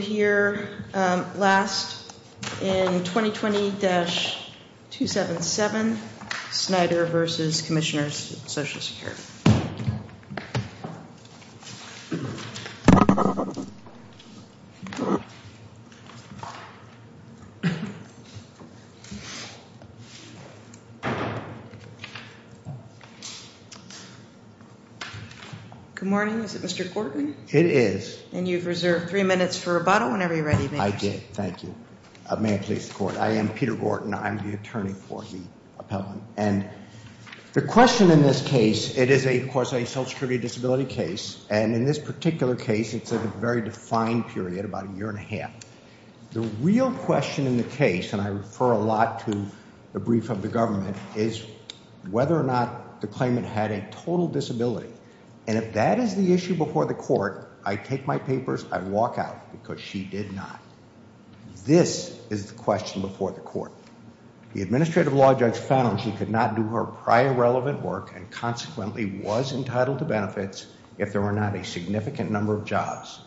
here last in 2020-277 Snyder v. Commissioner of Social Security. Good morning, is it Mr. Cortley? It is. And you've reserved three minutes for rebuttal whenever you're ready. I did. Thank you. May it please the Court. I am Peter Gorton. I'm the attorney for the appellant. And the question in this case, it is a, of course, a social security disability case. And in this particular case, it's a very defined period, about a year and a half. The real question in the case, and I refer a lot to the brief of the government, is whether or not the claimant had a total disability. And if that is the issue before the court, I take my papers, I walk out, because she did not. This is the question before the court. The administrative law judge found she could not do her prior relevant work and consequently was entitled to benefits if there were not a significant number of jobs.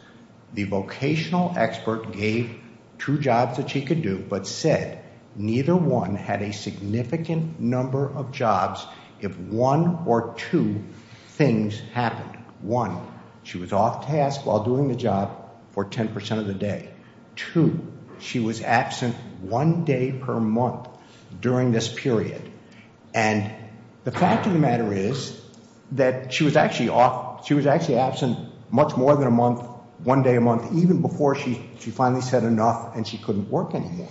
The vocational expert gave two jobs that she could do, but said neither one had a significant number of jobs if one or two things happened. One, she was off task while doing the job for 10% of the day. Two, she was absent one day per month during this period. And the fact of the matter is that she was actually off, she was actually absent much more than a month, one day a month, even before she finally said enough and she couldn't work anymore.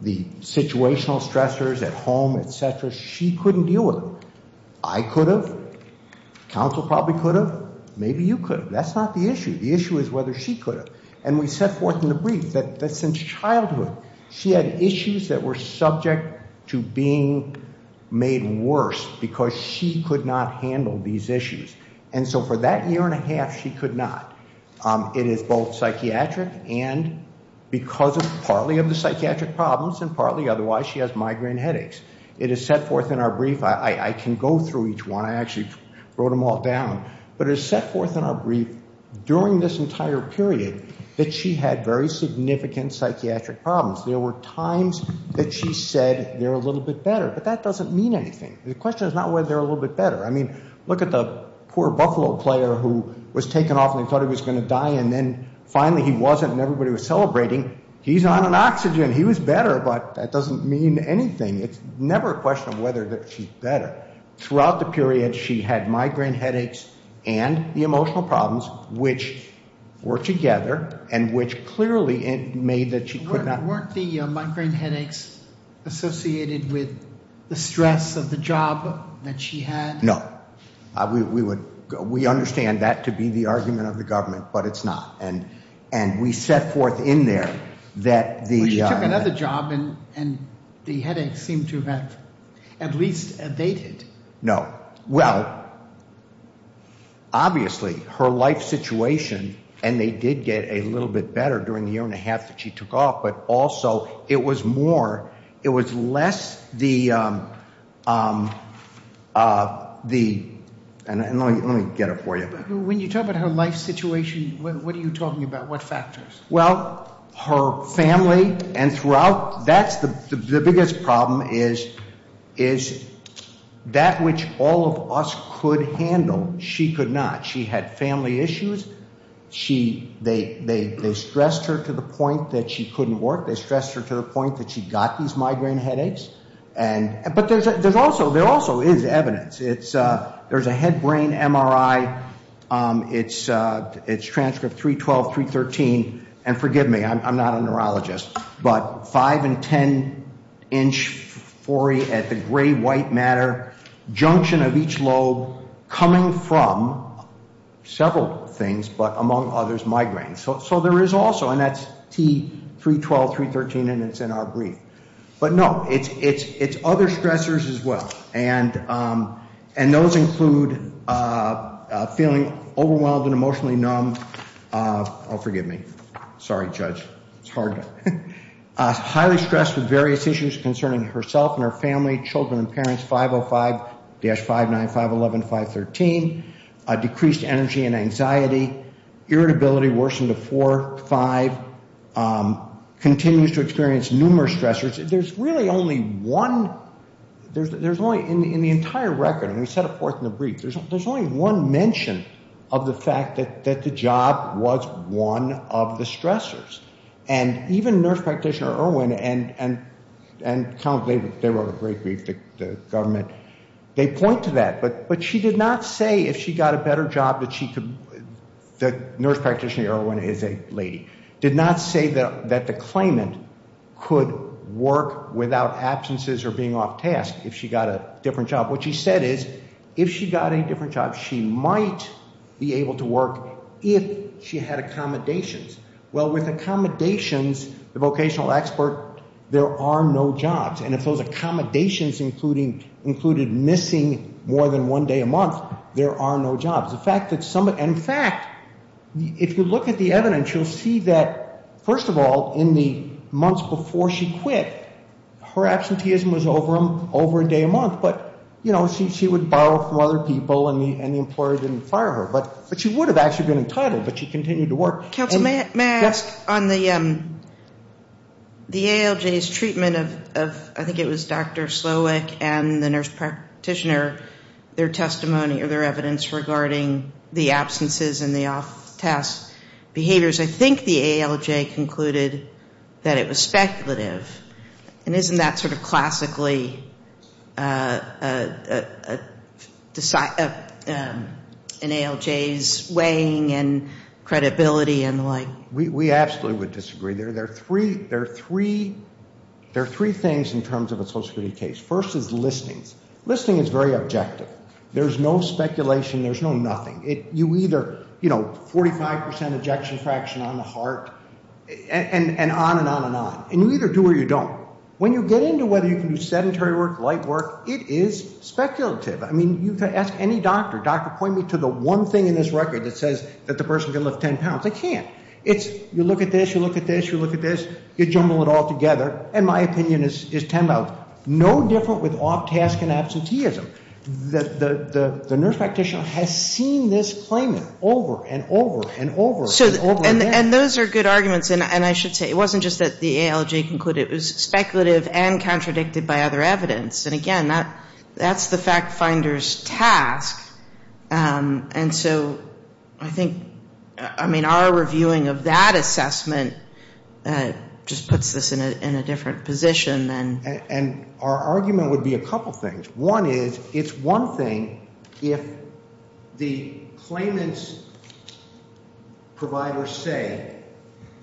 The situational stressors at home, et cetera, she couldn't deal with them. I could have. Counsel probably could have. Maybe you could have. That's not the issue. The issue is whether she could have. And we set forth in the brief that since childhood, she had issues that were subject to being made worse because she could not handle these issues. And so for that year and a half, she could not. It is both psychiatric and because of partly of the psychiatric problems and partly otherwise, she has migraine headaches. It is set forth in our brief. I can go through each one. I actually wrote them all down. But it is set forth in our brief during this entire period that she had very significant psychiatric problems. There were times that she said they're a little bit better. But that doesn't mean anything. The question is not whether they're a little bit better. I mean, look at the poor Buffalo player who was taken off and they thought he was going to die. And then finally he wasn't and everybody was celebrating. He's on an oxygen. He was better. But that doesn't mean anything. It's never a question of whether she's better. Throughout the period, she had migraine headaches and the emotional problems, which were together and which clearly made that she could not. Weren't the migraine headaches associated with the stress of the job that she had? No. We understand that to be the argument of the government, but it's not. And we set forth in there that the other job and the headaches seem to have at least abated. No. Well, obviously her life situation and they did get a little bit better during the year after she took off, but also it was more, it was less the, and let me get it for you. When you talk about her life situation, what are you talking about? What factors? Well, her family and throughout, that's the biggest problem is that which all of us could handle. She could not. She had family issues. They stressed her to the point that she couldn't work. They stressed her to the point that she got these migraine headaches. But there also is evidence. There's a head brain MRI. It's transcript 312, 313. And forgive me, I'm not a neurologist. But five and ten inch foray at the gray-white matter junction of each lobe coming from several things, but among others migraines. So there is also, and that's T312, 313, and it's in our brief. But no, it's other stressors as well. And those include feeling overwhelmed and emotionally numb. Oh, forgive me. Sorry, Judge. It's hard. Highly stressed with various issues concerning herself and her family, children and parents, 505-595-11513. Decreased energy and anxiety. Irritability worsened to 45. Continues to experience numerous stressors. There's really only one. There's only, in the entire record, and we set it forth in the brief, there's only one mention of the fact that the job was one of the stressors. And even nurse practitioner Irwin, and they wrote a great brief, the government, they point to that. But she did not say if she got a better job that she could, the nurse practitioner Irwin is a lady, did not say that the claimant could work without absences or being off task if she got a different job. What she said is if she got a different job, she might be able to work if she had accommodations. Well, with accommodations, the vocational expert, there are no jobs. And if those accommodations included missing more than one day a month, there are no jobs. In fact, if you look at the evidence, you'll see that, first of all, in the months before she quit, her absenteeism was over a day a month, but, you know, she would borrow from other people and the employer didn't fire her. But she would have actually been entitled, but she continued to work. Counsel, may I ask on the ALJ's treatment of, I think it was Dr. Slowick and the nurse practitioner, their testimony or their evidence regarding the absences and the off-task behaviors, I think the ALJ concluded that it was speculative. And isn't that sort of classically an ALJ's weighing and credibility and the like? We absolutely would disagree. There are three things in terms of a social security case. First is listings. Listing is very objective. There's no speculation. There's no nothing. You either, you know, 45% ejection fraction on the heart and on and on and on. And you either do or you don't. When you get into whether you can do sedentary work, light work, it is speculative. I mean, you can ask any doctor. Doctor, point me to the one thing in this record that says that the person can lift 10 pounds. They can't. It's you look at this, you look at this, you look at this, you jumble it all together, and my opinion is 10 pounds. No different with off-task and absenteeism. The nurse practitioner has seen this claimant over and over and over and over again. And those are good arguments. And I should say it wasn't just that the ALJ concluded it was speculative and contradicted by other evidence. And, again, that's the fact finder's task. And so I think, I mean, our reviewing of that assessment just puts this in a different position. And our argument would be a couple things. One is it's one thing if the claimant's providers say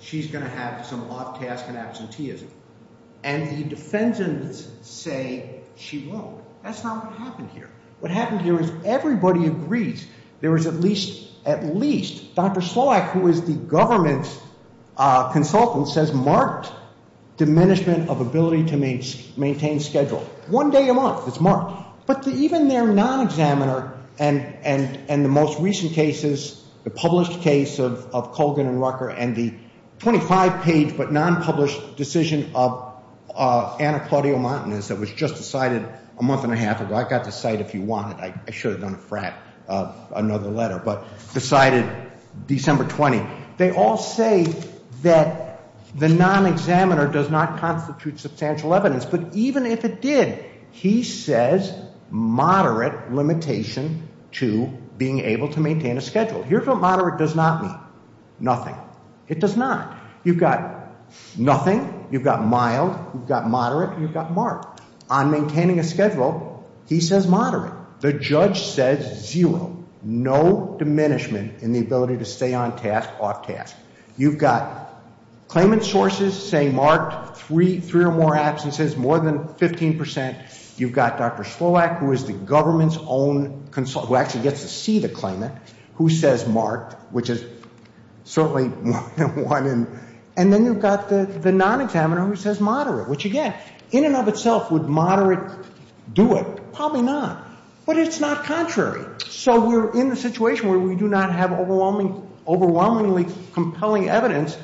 she's going to have some off-task and absenteeism and the defendants say she won't. That's not what happened here. What happened here is everybody agrees there is at least, at least, Dr. Sloack, who is the government's consultant, says marked diminishment of ability to maintain schedule. One day a month, it's marked. But even their non-examiner and the most recent cases, the published case of Colgan and Rucker and the 25-page but non-published decision of Anna Claudio-Montanez that was just decided a month and a half ago. I got the cite if you want it. I should have done a frat of another letter, but decided December 20. They all say that the non-examiner does not constitute substantial evidence. But even if it did, he says moderate limitation to being able to maintain a schedule. Here's what moderate does not mean. Nothing. It does not. You've got nothing. You've got mild. You've got moderate. You've got marked. On maintaining a schedule, he says moderate. The judge says zero. No diminishment in the ability to stay on task, off task. You've got claimant sources saying marked, three or more absences, more than 15%. You've got Dr. Slowack, who is the government's own consultant, who actually gets to see the claimant, who says marked, which is certainly more than one. And then you've got the non-examiner who says moderate, which, again, in and of itself, would moderate do it? Probably not. But it's not contrary. So we're in the situation where we do not have overwhelmingly compelling evidence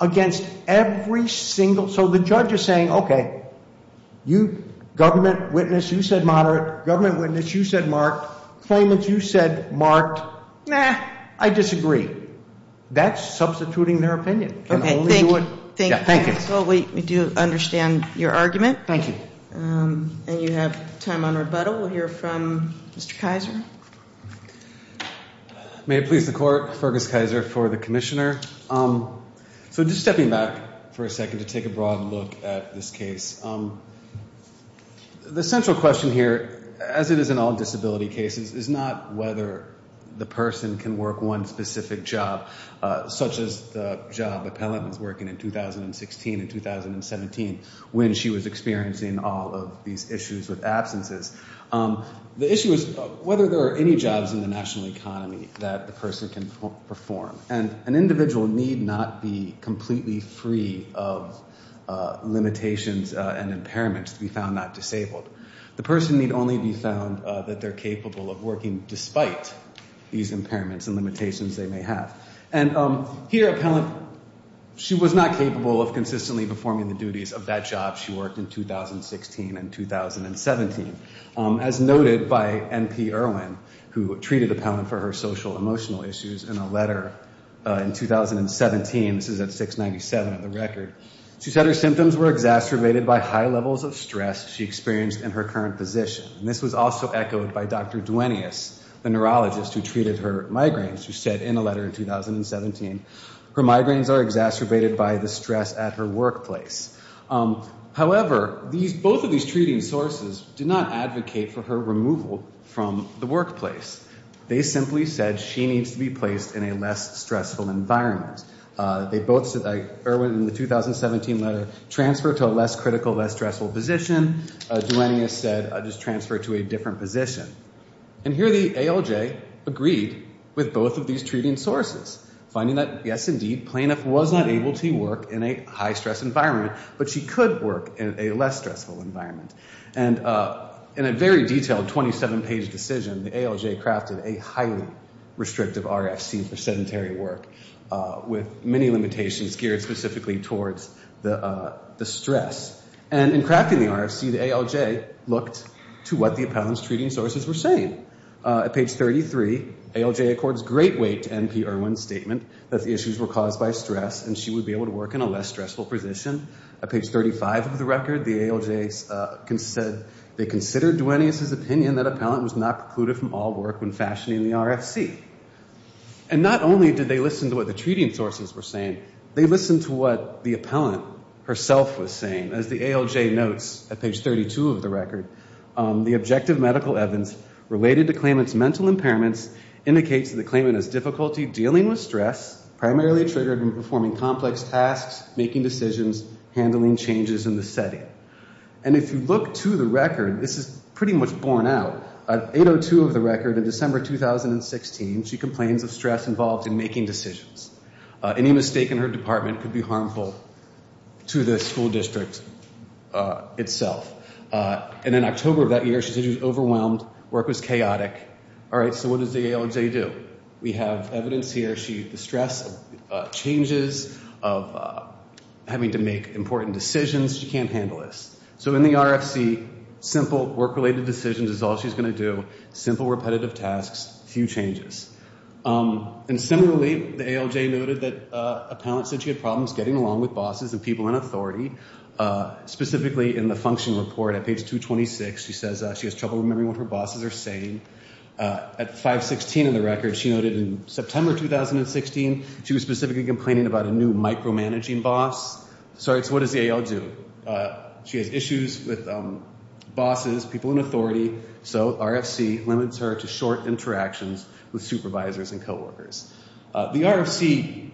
against every single ‑‑ so the judge is saying, okay, you, government witness, you said moderate. Government witness, you said marked. Claimant, you said marked. Nah, I disagree. That's substituting their opinion. And only you would ‑‑ Thank you. We do understand your argument. Thank you. And you have time on rebuttal. We'll hear from Mr. Kaiser. May it please the court, Fergus Kaiser for the commissioner. So just stepping back for a second to take a broad look at this case. The central question here, as it is in all disability cases, is not whether the person can work one specific job, such as the job the appellant was working in 2016 and 2017 when she was experiencing all of these issues with absences. The issue is whether there are any jobs in the national economy that the person can perform. And an individual need not be completely free of limitations and impairments to be found not disabled. The person need only be found that they're capable of working despite these impairments and limitations they may have. And here, appellant, she was not capable of consistently performing the duties of that job she worked in 2016 and 2017. As noted by N.P. Erwin, who treated the appellant for her social emotional issues in a letter in 2017, this is at 697 of the record. She said her symptoms were exacerbated by high levels of stress. She experienced in her current position. And this was also echoed by Dr. Duenius, the neurologist who treated her migraines, who said in a letter in 2017, her migraines are exacerbated by the stress at her workplace. However, these both of these treating sources did not advocate for her removal from the workplace. They simply said she needs to be placed in a less stressful environment. They both said, like Erwin in the 2017 letter, transfer to a less critical, less stressful position. Duenius said just transfer to a different position. And here the ALJ agreed with both of these treating sources, finding that, yes, indeed, plaintiff was not able to work in a high stress environment, but she could work in a less stressful environment. And in a very detailed 27-page decision, the ALJ crafted a highly restrictive RFC for sedentary work with many limitations geared specifically towards the stress. And in crafting the RFC, the ALJ looked to what the appellant's treating sources were saying. At page 33, ALJ accords great weight to N.P. Erwin's statement that the issues were caused by stress and she would be able to work in a less stressful position. At page 35 of the record, the ALJ said they considered Duenius's opinion that appellant was not precluded from all work when fashioning the RFC. And not only did they listen to what the treating sources were saying, they listened to what the appellant herself was saying. As the ALJ notes at page 32 of the record, the objective medical evidence related to claimant's mental impairments indicates that the claimant has difficulty dealing with stress, primarily triggered when performing complex tasks, making decisions, handling changes in the setting. And if you look to the record, this is pretty much borne out. At 8.02 of the record in December 2016, she complains of stress involved in making decisions. Any mistake in her department could be harmful to the school district itself. And in October of that year, she said she was overwhelmed, work was chaotic. All right, so what does the ALJ do? We have evidence here. The stress of changes, of having to make important decisions, she can't handle this. So in the RFC, simple work-related decisions is all she's going to do, simple repetitive tasks, few changes. And similarly, the ALJ noted that appellant said she had problems getting along with bosses and people in authority. Specifically in the function report at page 226, she says she has trouble remembering what her bosses are saying. At 5.16 of the record, she noted in September 2016, she was specifically complaining about a new micromanaging boss. All right, so what does the AL do? She has issues with bosses, people in authority. So RFC limits her to short interactions with supervisors and coworkers. The RFC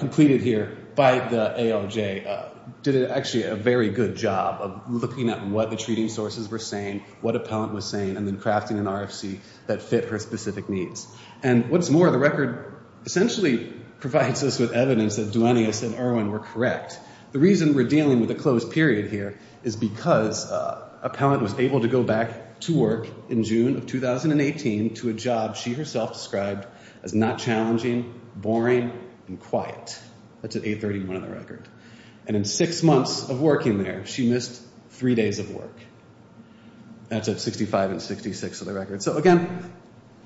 completed here by the ALJ did actually a very good job of looking at what the treating sources were saying, what appellant was saying, and then crafting an RFC that fit her specific needs. And what's more, the record essentially provides us with evidence that Duenius and Irwin were correct. The reason we're dealing with a closed period here is because appellant was able to go back to work in June of 2018 to a job she herself described as not challenging, boring, and quiet. And in six months of working there, she missed three days of work. That's at 65 and 66 of the record. So again,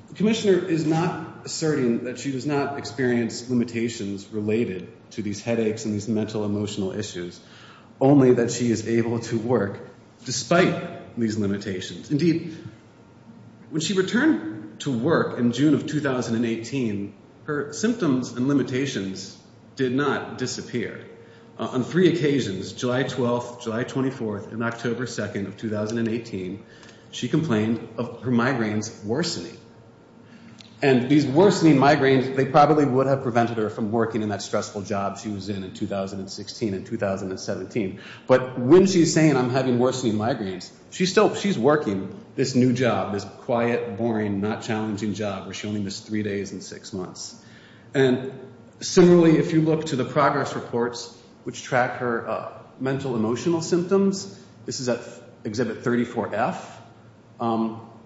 the commissioner is not asserting that she does not experience limitations related to these headaches and these mental-emotional issues, only that she is able to work despite these limitations. Indeed, when she returned to work in June of 2018, her symptoms and limitations did not disappear. On three occasions, July 12th, July 24th, and October 2nd of 2018, she complained of her migraines worsening. And these worsening migraines, they probably would have prevented her from working in that stressful job she was in in 2016 and 2017. But when she's saying I'm having worsening migraines, she's working this new job, this quiet, boring, not challenging job where she only missed three days in six months. And similarly, if you look to the progress reports which track her mental-emotional symptoms, this is at Exhibit 34F,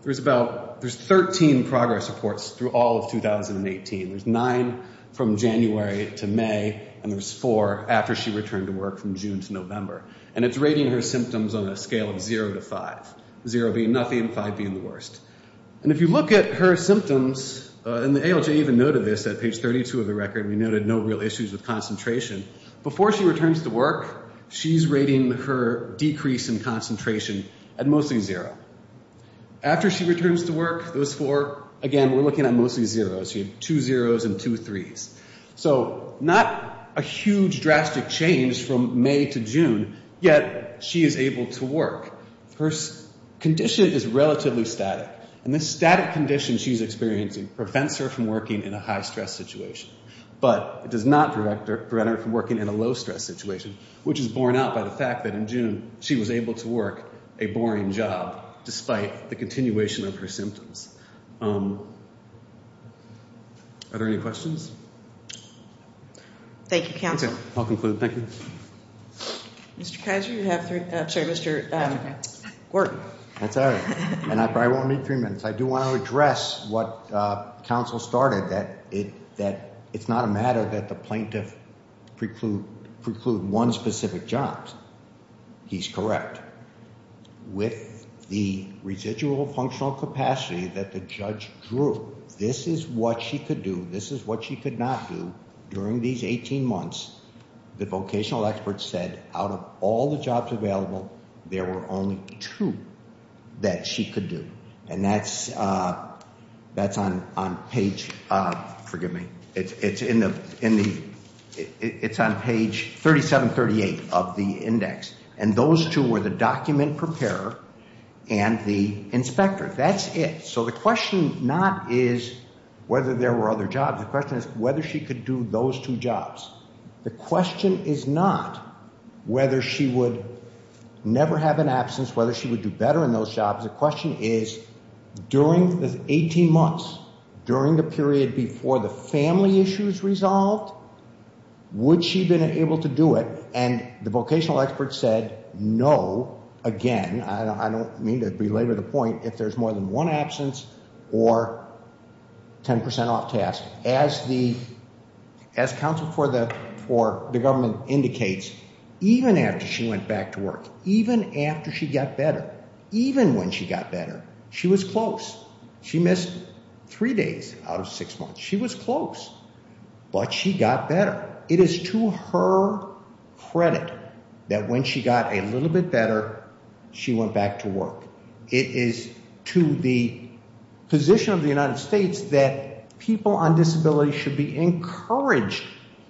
there's 13 progress reports through all of 2018. There's nine from January to May, and there's four after she returned to work from June to November. And it's rating her symptoms on a scale of zero to five, zero being nothing, five being the worst. And if you look at her symptoms, and the ALJ even noted this at page 32 of the record, we noted no real issues with concentration. Before she returns to work, she's rating her decrease in concentration at mostly zero. After she returns to work, those four, again, we're looking at mostly zeros. She had two zeros and two threes. So not a huge drastic change from May to June, yet she is able to work. Her condition is relatively static, and this static condition she's experiencing prevents her from working in a high-stress situation. But it does not prevent her from working in a low-stress situation, which is borne out by the fact that in June she was able to work a boring job despite the continuation of her symptoms. Are there any questions? Thank you, counsel. I'll conclude. Thank you. Mr. Kiser, you have three minutes. I'm sorry, Mr. Gorton. That's all right, and I probably won't need three minutes. I do want to address what counsel started, that it's not a matter that the plaintiff preclude one specific job. He's correct. With the residual functional capacity that the judge drew, this is what she could do, this is what she could not do. During these 18 months, the vocational experts said out of all the jobs available, there were only two that she could do. And that's on page, forgive me, it's on page 3738 of the index. And those two were the document preparer and the inspector. That's it. So the question not is whether there were other jobs. The question is whether she could do those two jobs. The question is not whether she would never have an absence, whether she would do better in those jobs. The question is during the 18 months, during the period before the family issues resolved, would she have been able to do it? And the vocational experts said no, again, I don't mean to belabor the point, if there's more than one absence or 10% off task. As counsel for the government indicates, even after she went back to work, even after she got better, even when she got better, she was close. She missed three days out of six months. She was close, but she got better. It is to her credit that when she got a little bit better, she went back to work. It is to the position of the United States that people on disability should be encouraged,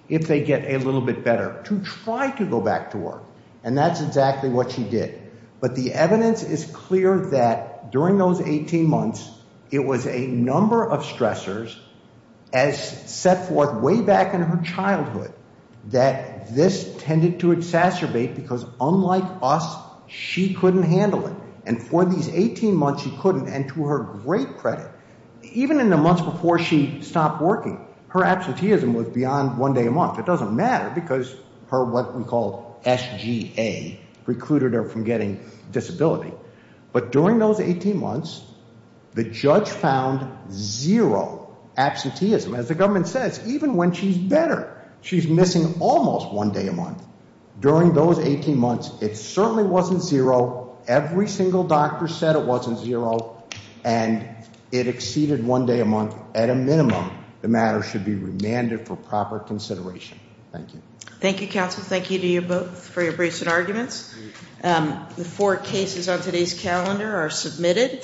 if they get a little bit better, to try to go back to work. And that's exactly what she did. But the evidence is clear that during those 18 months, it was a number of stressors, as set forth way back in her childhood, that this tended to exacerbate because unlike us, she couldn't handle it. And for these 18 months, she couldn't, and to her great credit, even in the months before she stopped working, her absenteeism was beyond one day a month. It doesn't matter because her what we call SGA recruited her from getting disability. But during those 18 months, the judge found zero absenteeism. As the government says, even when she's better, she's missing almost one day a month. During those 18 months, it certainly wasn't zero. Every single doctor said it wasn't zero, and it exceeded one day a month. At a minimum, the matter should be remanded for proper consideration. Thank you. Thank you, counsel. Thank you to you both for your briefs and arguments. The four cases on today's calendar are submitted.